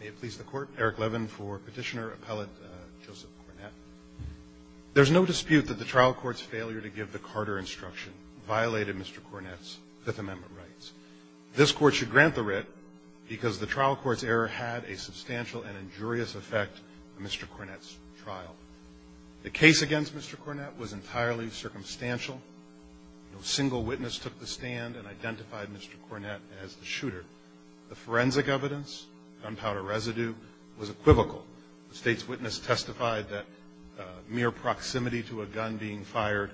May it please the Court, Eric Levin for Petitioner Appellate Joseph Cornett. There's no dispute that the trial court's failure to give the Carter instruction violated Mr. Cornett's Fifth Amendment rights. This Court should grant the writ because the trial court's error had a substantial and injurious effect on Mr. Cornett's trial. The case against Mr. Cornett was entirely circumstantial. No single witness took the stand and identified Mr. Cornett as the shooter. The forensic evidence, gunpowder residue, was equivocal. The state's witness testified that mere proximity to a gun being fired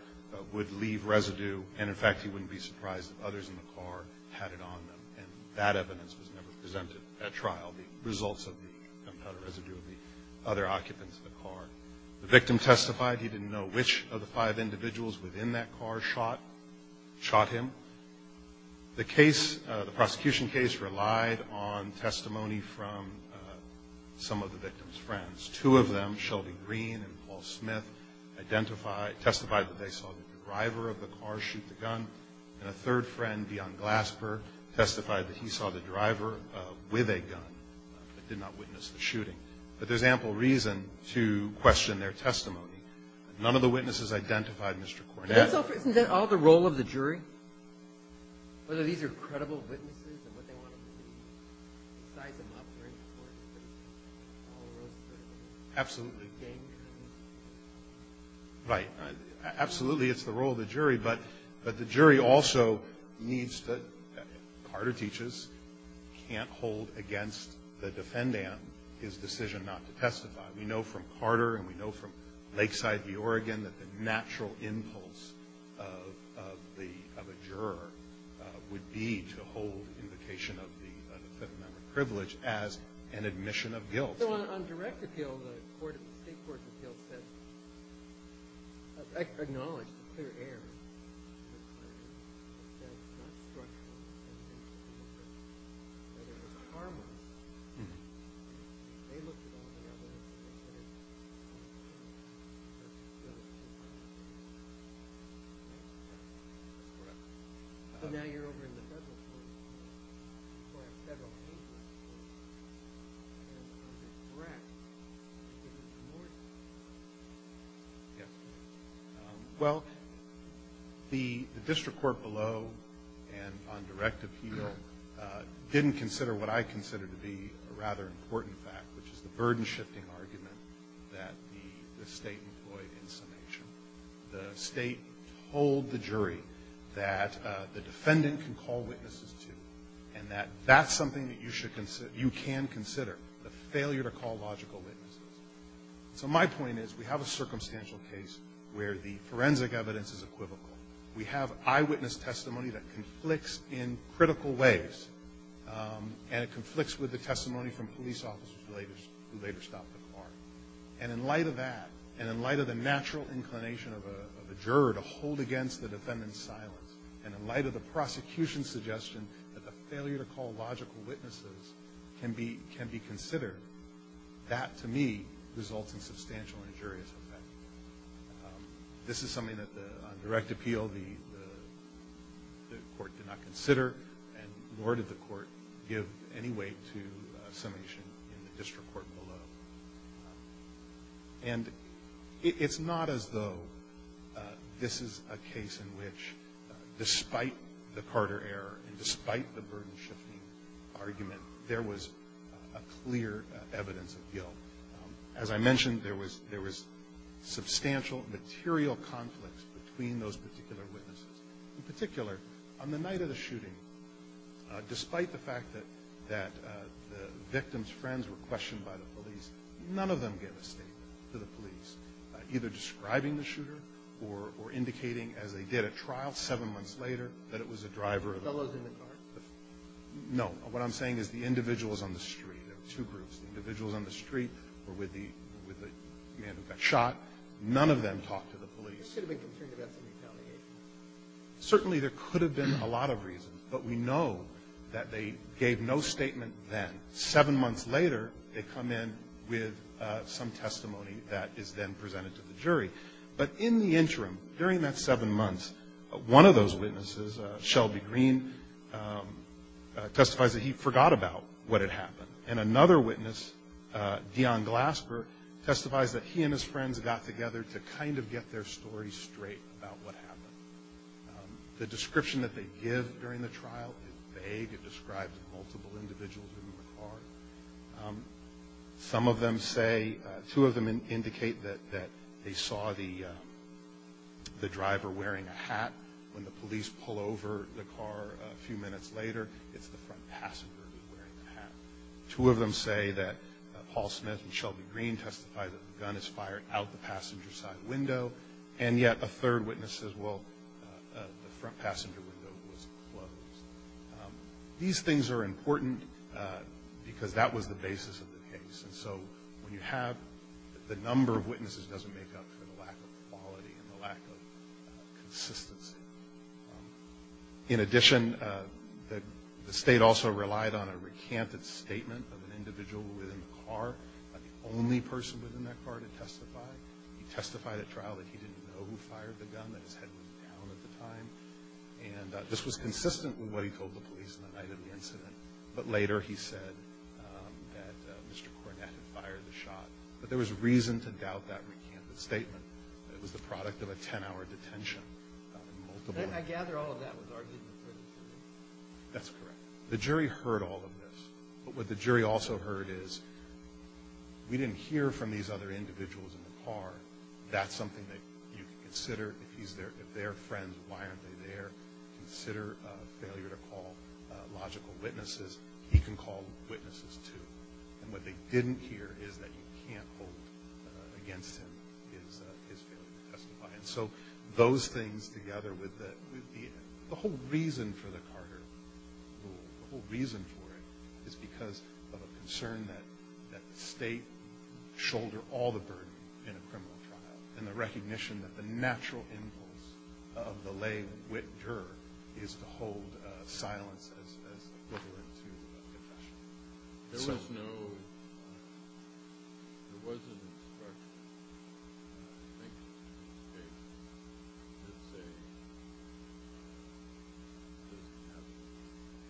would leave residue and, in fact, he wouldn't be surprised if others in the car had it on them. And that evidence was never presented at trial, the results of the gunpowder residue of the other occupants in the car. The victim testified he didn't know which of the five individuals within that car shot him. The case, the prosecution case, relied on testimony from some of the victim's friends. Two of them, Shelby Green and Paul Smith, identified, testified that they saw the driver of the car shoot the gun. And a third friend, Dion Glasper, testified that he saw the driver with a gun, but did not witness the shooting. But there's ample reason to question their testimony. None of the witnesses identified Mr. Cornett. Isn't that all the role of the jury? Whether these are credible witnesses and what they want them to do, size them up, bring them forward? Absolutely. Right. Absolutely it's the role of the jury, but the jury also needs to, Carter teaches, we know from Carter and we know from Lakeside v. Oregon that the natural impulse of the, of a juror would be to hold invocation of the fifth amendment privilege as an admission of guilt. So on direct appeal, the state court of appeals said, Well, the district court below and on direct appeal didn't consider what I consider to be a rather important fact, which is the burden-shifting argument that the State employed in summation. The State told the jury that the defendant can call witnesses to, and that that's something that you should consider, you can consider, the failure to call logical witnesses. So my point is, we have a circumstantial case where the forensic evidence is equivocal. We have eyewitness testimony that conflicts in critical ways, and it conflicts with the testimony from police officers who later stopped the car. And in light of that, and in light of the natural inclination of a juror to hold against the defendant's silence, and in light of the prosecution's suggestion that the failure to call logical witnesses can be considered, that, to me, results in substantial injurious effect. This is something that on direct appeal the court did not consider, and nor did the court give any weight to summation in the district court below. And it's not as though this is a case in which, despite the Carter error and despite the burden-shifting argument, there was a clear evidence of guilt. As I mentioned, there was substantial material conflicts between those particular witnesses. In particular, on the night of the shooting, despite the fact that the victim's testimony was questioned by the police, none of them gave a statement to the police, either describing the shooter or indicating, as they did at trial seven months later, that it was a driver of the car. No. What I'm saying is the individuals on the street, there were two groups, the individuals on the street or with the man who got shot, none of them talked to the police. Certainly there could have been a lot of reasons, but we know that they gave no statement then. Seven months later, they come in with some testimony that is then presented to the jury. But in the interim, during that seven months, one of those witnesses, Shelby Green, testifies that he forgot about what had happened. And another witness, Dion Glasper, testifies that he and his friends got together to kind of get their story straight about what happened. The description that they give during the trial is vague. It describes multiple individuals in the car. Some of them say, two of them indicate that they saw the driver wearing a hat. When the police pull over the car a few minutes later, it's the front passenger who's wearing the hat. Two of them say that Paul Smith and Shelby Green testified that the gun is fired out the passenger side window. And yet a third witness says, well, the front passenger window was closed. These things are important because that was the basis of the case. And so when you have the number of witnesses, it doesn't make up for the lack of quality and the lack of consistency. In addition, the state also relied on a recanted statement of an individual within the car, the only person within that car to testify. He testified at trial that he didn't know who fired the gun, that his head was down at the time. And this was consistent with what he told the police on the night of the incident. But later he said that Mr. Cornett had fired the shot. But there was reason to doubt that recanted statement. It was the product of a 10-hour detention. I gather all of that was argued before the jury. That's correct. The jury heard all of this. But what the jury also heard is we didn't hear from these other individuals in the car. That's something that you can consider. If they're friends, why aren't they there? Consider a failure to call logical witnesses. He can call witnesses, too. And what they didn't hear is that you can't hold against him his failure to testify. And so those things together with the whole reason for the Carter rule, the whole reason for it is because of a concern that the state shouldered all the burden in a criminal trial and the recognition that the natural impulse of the lay wit juror is to hold silence as equivalent to a confession. There was no – there was an instruction, I think, in the state to say it doesn't have to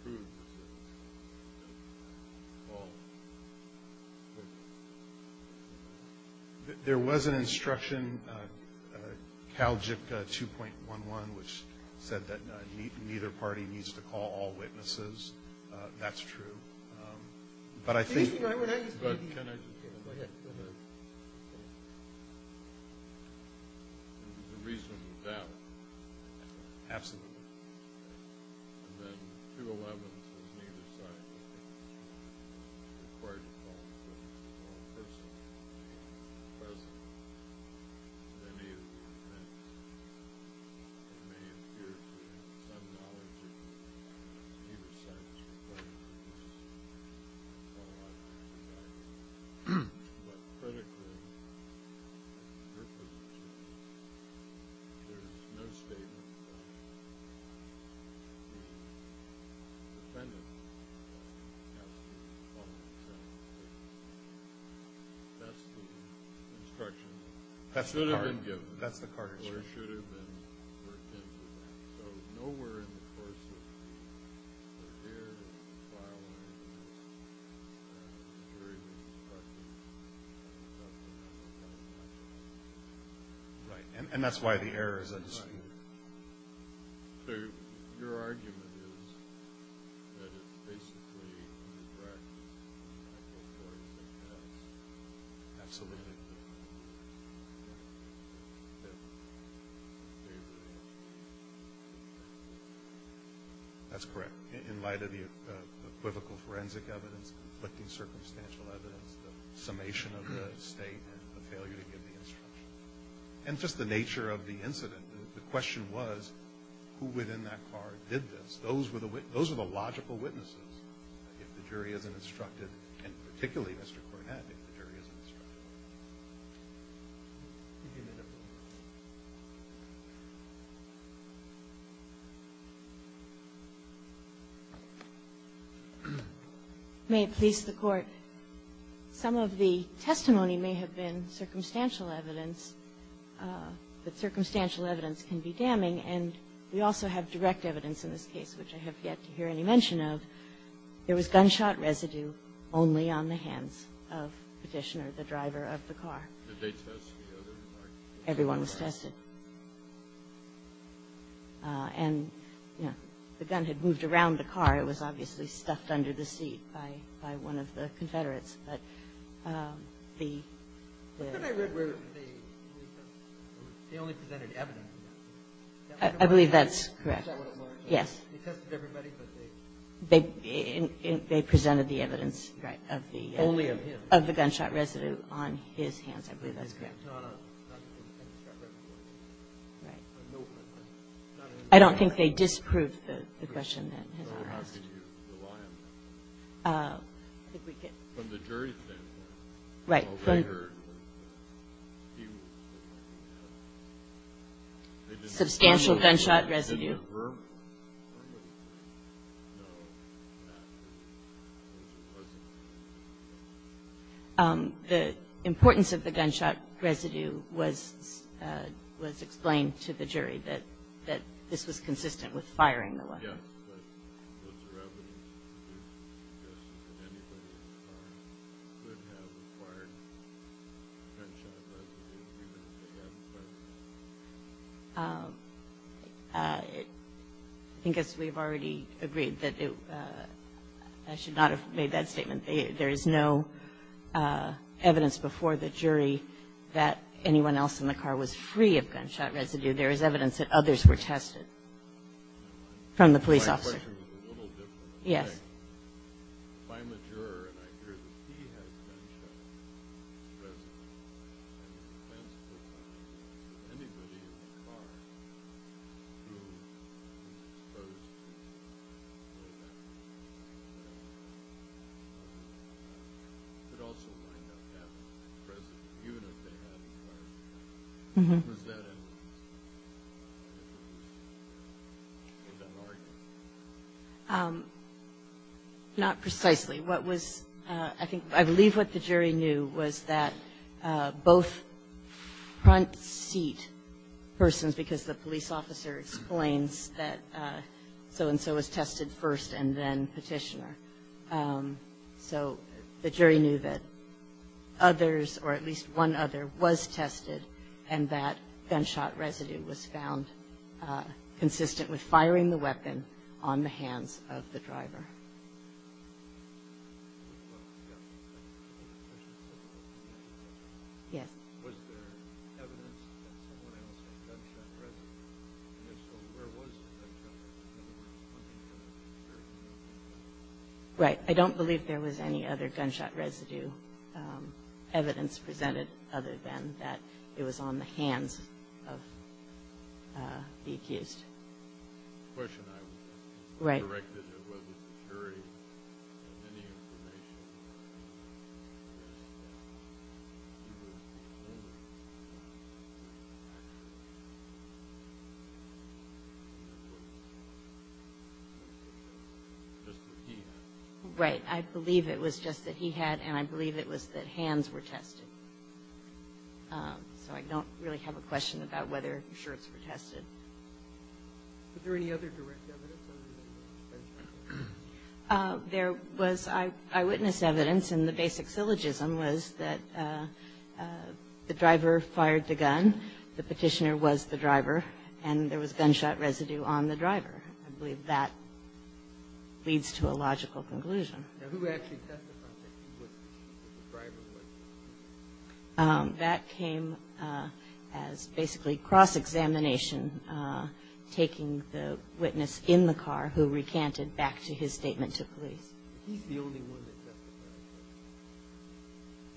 prove the sentence. It doesn't have to call witnesses. There was an instruction, CalJIT 2.11, which said that neither party needs to call all witnesses. That's true. But I think – It's required to call a witness. It's not a personal opinion. It's a personal opinion. And it may appear to be some knowledge that he or she is required to do this. I don't know why that's the case. But critically, there's no statement that the defendant has to call the witness. That's the instruction that should have been given or should have been worked into. So nowhere in the course of the fair trial and jury practice does it have a confidentiality. Right. And that's why the error is a distinction. Right. So your argument is that it's basically the practice of the medical court that has Absolutely. That's correct. In light of the equivocal forensic evidence, conflicting circumstantial evidence, the summation of the state and the failure to give the instruction. And just the nature of the incident. The question was, who within that court did this? Those are the logical witnesses if the jury isn't instructed, May it please the Court. Some of the testimony may have been circumstantial evidence, but circumstantial evidence can be damning. And we also have direct evidence in this case, which I have yet to hear any mention There was gunshot residue only on the hands of Petitioner, the driver of the car. Did they test the other car? Everyone was tested. And, you know, the gun had moved around the car. It was obviously stuffed under the seat by one of the Confederates. But the I believe that's correct. Yes. They presented the evidence of the gunshot residue on his hands. I believe that's correct. I don't think they disproved the question that has been asked. From the jury standpoint. Right. Substantial gunshot residue. The importance of the gunshot residue was explained to the jury that this was consistent with firing the weapon. I guess we've already agreed that I should not have made that statement. There is no evidence before the jury that anyone else in the car was free of gunshot residue. There is evidence that others were tested from the police officer. Yes. If I'm a juror and I hear that he has gunshot residue, is it possible that anybody in the car who was exposed to gunshot residue could also wind up having gunshot residue, even if they had a car? Was that an argument? Not precisely. I believe what the jury knew was that both front seat persons, because the police officer explains that so-and-so was tested first and then petitioner. So the jury knew that others, or at least one other, was tested, and that gunshot residue was found consistent with firing the weapon on the hands of the driver. Yes. Was there evidence that someone else had gunshot residue? Right. I don't believe there was any other gunshot residue evidence presented other than that it was on the hands of the accused. The question I would ask is whether the jury had any information. Right. I believe it was just that he had, and I believe it was that hands were tested. So I don't really have a question about whether shirts were tested. Was there any other direct evidence other than gunshot residue? There was eyewitness evidence, and the basic syllogism was that the driver fired the gun, the petitioner was the driver, and there was gunshot residue on the driver. I believe that leads to a logical conclusion. Now, who actually testified that he wasn't the driver? That came as basically cross-examination, taking the witness in the car who recanted back to his statement to police. He's the only one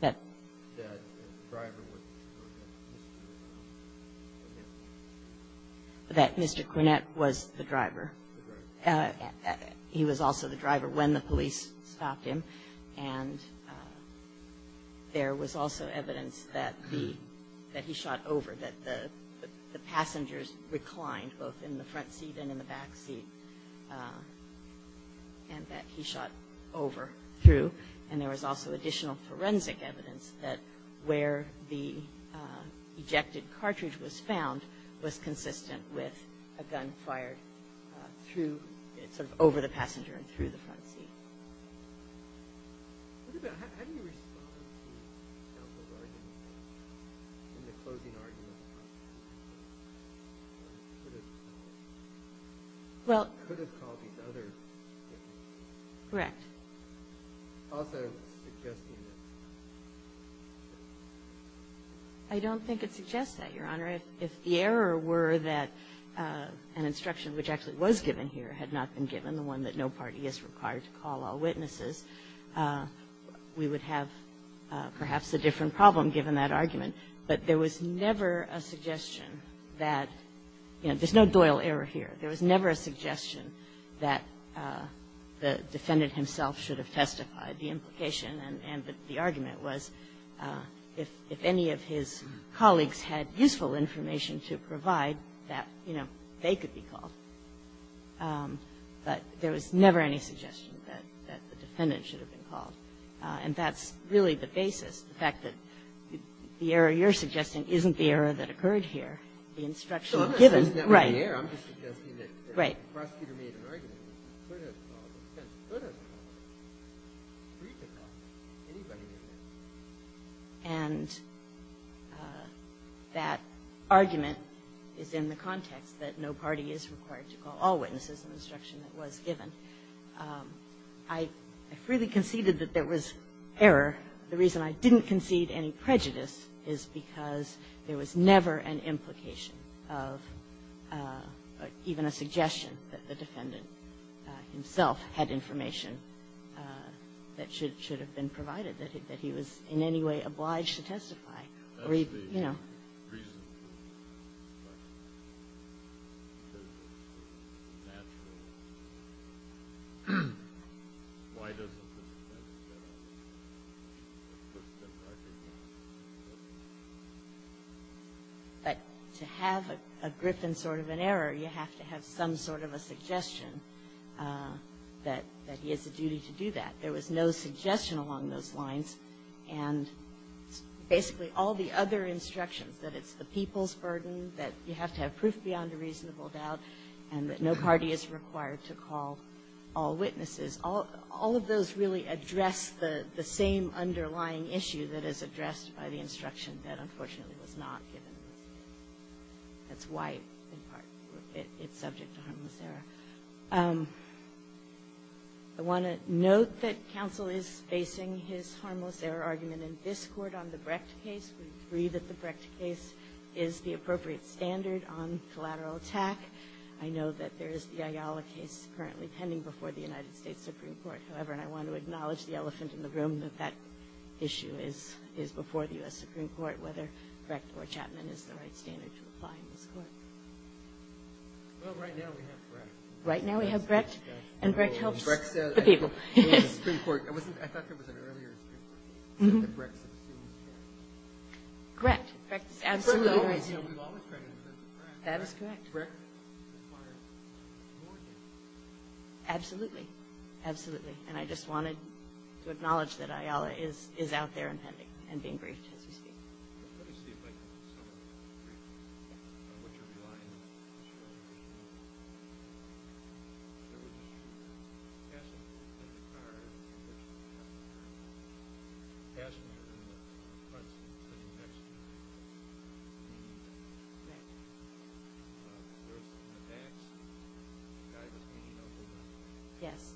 that testified that the driver wasn't the driver, that Mr. Quinnett was the driver. He was also the driver when the police stopped him, and there was also evidence that he shot over, that the passengers reclined both in the front seat and in the back seat, and that he shot over through. And there was also additional forensic evidence that where the ejected cartridge was found was consistent with a gun fired through, sort of over the passenger and through the front seat. How do you respond to these types of arguments, and the closing argument about that, that it could have caused these other differences? Correct. Also suggesting that it's not. I don't think it suggests that, Your Honor. If the error were that an instruction, which actually was given here, had not been given, the one that no party is required to call all witnesses, we would have perhaps a different problem given that argument. But there was never a suggestion that, you know, there's no Doyle error here. There was never a suggestion that the defendant himself should have testified. The implication and the argument was if any of his colleagues had useful information to provide that, you know, they could be called. But there was never any suggestion that the defendant should have been called. And that's really the basis, the fact that the error you're suggesting isn't the error that occurred here. The instruction given. Right. And that argument is in the context that no party is required to call all witnesses in the instruction that was given. I freely conceded that there was error. The reason I didn't concede any prejudice is because there was never an implication of even a suggestion that the defendant himself had information that should have been provided, that he was in any way obliged to testify. You know. But to have a grip and sort of an error, you have to have some sort of a suggestion that he has a duty to do that. There was no suggestion along those lines. And basically all the other instructions, that it's the people's burden, that you have to have proof beyond a reasonable doubt, and that no party is required to call all witnesses. All of those really address the same underlying issue that is addressed by the instruction that unfortunately was not given. That's why, in part, it's subject to harmless error. I want to note that counsel is facing his harmless error argument in this court on the Brecht case. We agree that the Brecht case is the appropriate standard on collateral attack. I know that there is the Ayala case currently pending before the United States Supreme Court. However, and I want to acknowledge the elephant in the room, that that issue is before the U.S. Supreme Court, whether Brecht or Chapman is the right standard to apply in this court. Well, right now we have Brecht. Right now we have Brecht, and Brecht helps the people. I thought there was an earlier Supreme Court case that Brecht subpoenaed Chapman. Brecht. Absolutely. We've always credited Brecht. That is correct. Brecht requires more evidence. Absolutely. Absolutely. And I just wanted to acknowledge that Ayala is out there and pending and being briefed as we speak. Let me see if I can get someone to brief me on what you're relying on. Sure. Yes.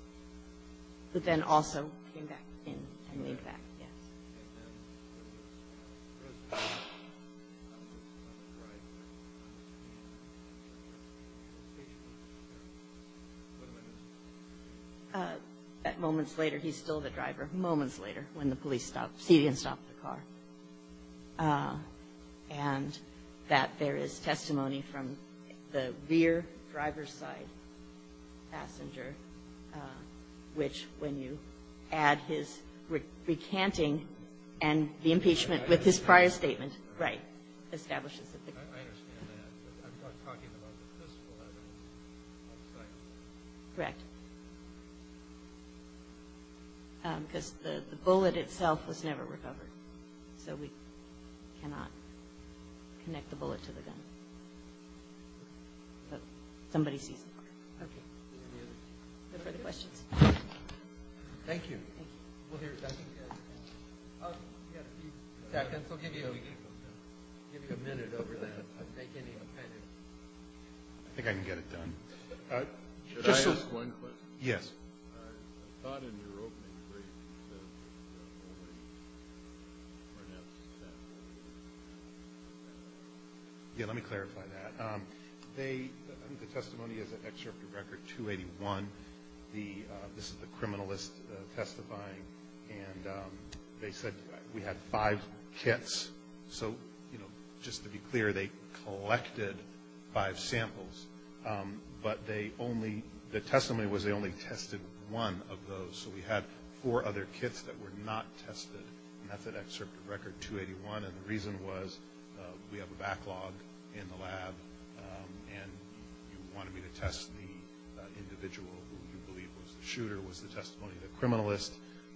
But then also came back in and laid back, yes. And then there was the President. What am I missing? Moments later, he's still the driver. Moments later, when the police stopped, he didn't stop the car. And that there is testimony from the rear driver's side passenger, which when you add his recanting and the impeachment with his prior statement, right, establishes it. I understand that. I'm talking about the fiscal evidence. Correct. Because the bullet itself was never recovered. So we cannot connect the bullet to the gun. But somebody sees the point. Okay. Any further questions? Thank you. Thank you. We'll hear from you guys. We've got a few seconds. We'll give you a minute over that. I think I can get it done. Should I ask one question? Yes. I thought in your opening brief that you were going to ask that question. Yeah, let me clarify that. The testimony is an excerpt of Record 281. This is the criminalist testifying. And they said we had five kits. So, you know, just to be clear, they collected five samples. But the testimony was they only tested one of those. So we had four other kits that were not tested. And that's an excerpt of Record 281. And the reason was we have a backlog in the lab, and you wanted me to test the individual who you believe was the shooter, was the testimony of the criminalist.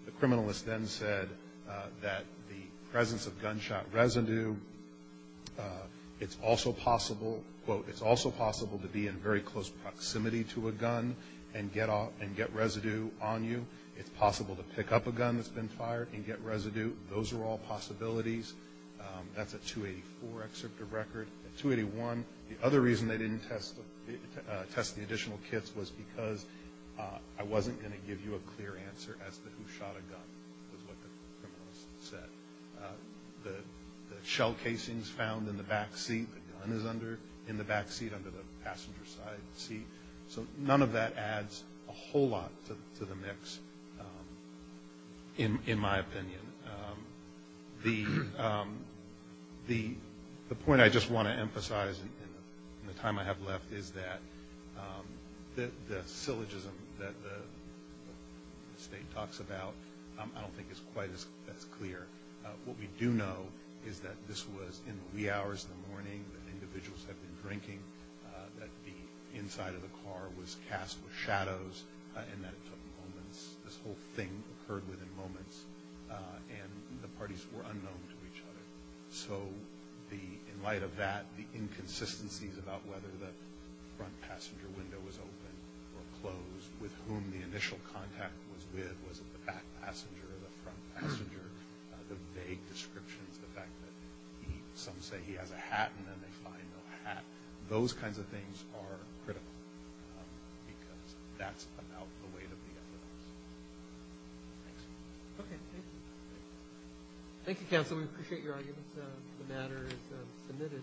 The criminalist then said that the presence of gunshot residue, it's also possible, quote, it's also possible to be in very close proximity to a gun and get residue on you. It's possible to pick up a gun that's been fired and get residue. Those are all possibilities. That's a 284 excerpt of Record 281. The other reason they didn't test the additional kits was because I wasn't going to give you a clear answer as to who shot a gun was what the criminalist said. The shell casings found in the back seat, the gun is under, in the back seat under the passenger side seat. So none of that adds a whole lot to the mix, in my opinion. The point I just want to emphasize in the time I have left is that the syllogism that the state talks about, I don't think it's quite as clear. What we do know is that this was in the wee hours of the morning, that individuals had been drinking, that the inside of the car was cast with shadows, and that it took moments. This whole thing occurred within moments, and the parties were unknown to each other. So in light of that, the inconsistencies about whether the front passenger window was open or closed, with whom the initial contact was with, was it the back passenger or the front passenger, the vague descriptions, the fact that some say he has a hat and then they find no hat, those kinds of things are critical because that's about the weight of the evidence. Thanks. Okay. Thank you, Counsel. We appreciate your arguments. The matter is submitted.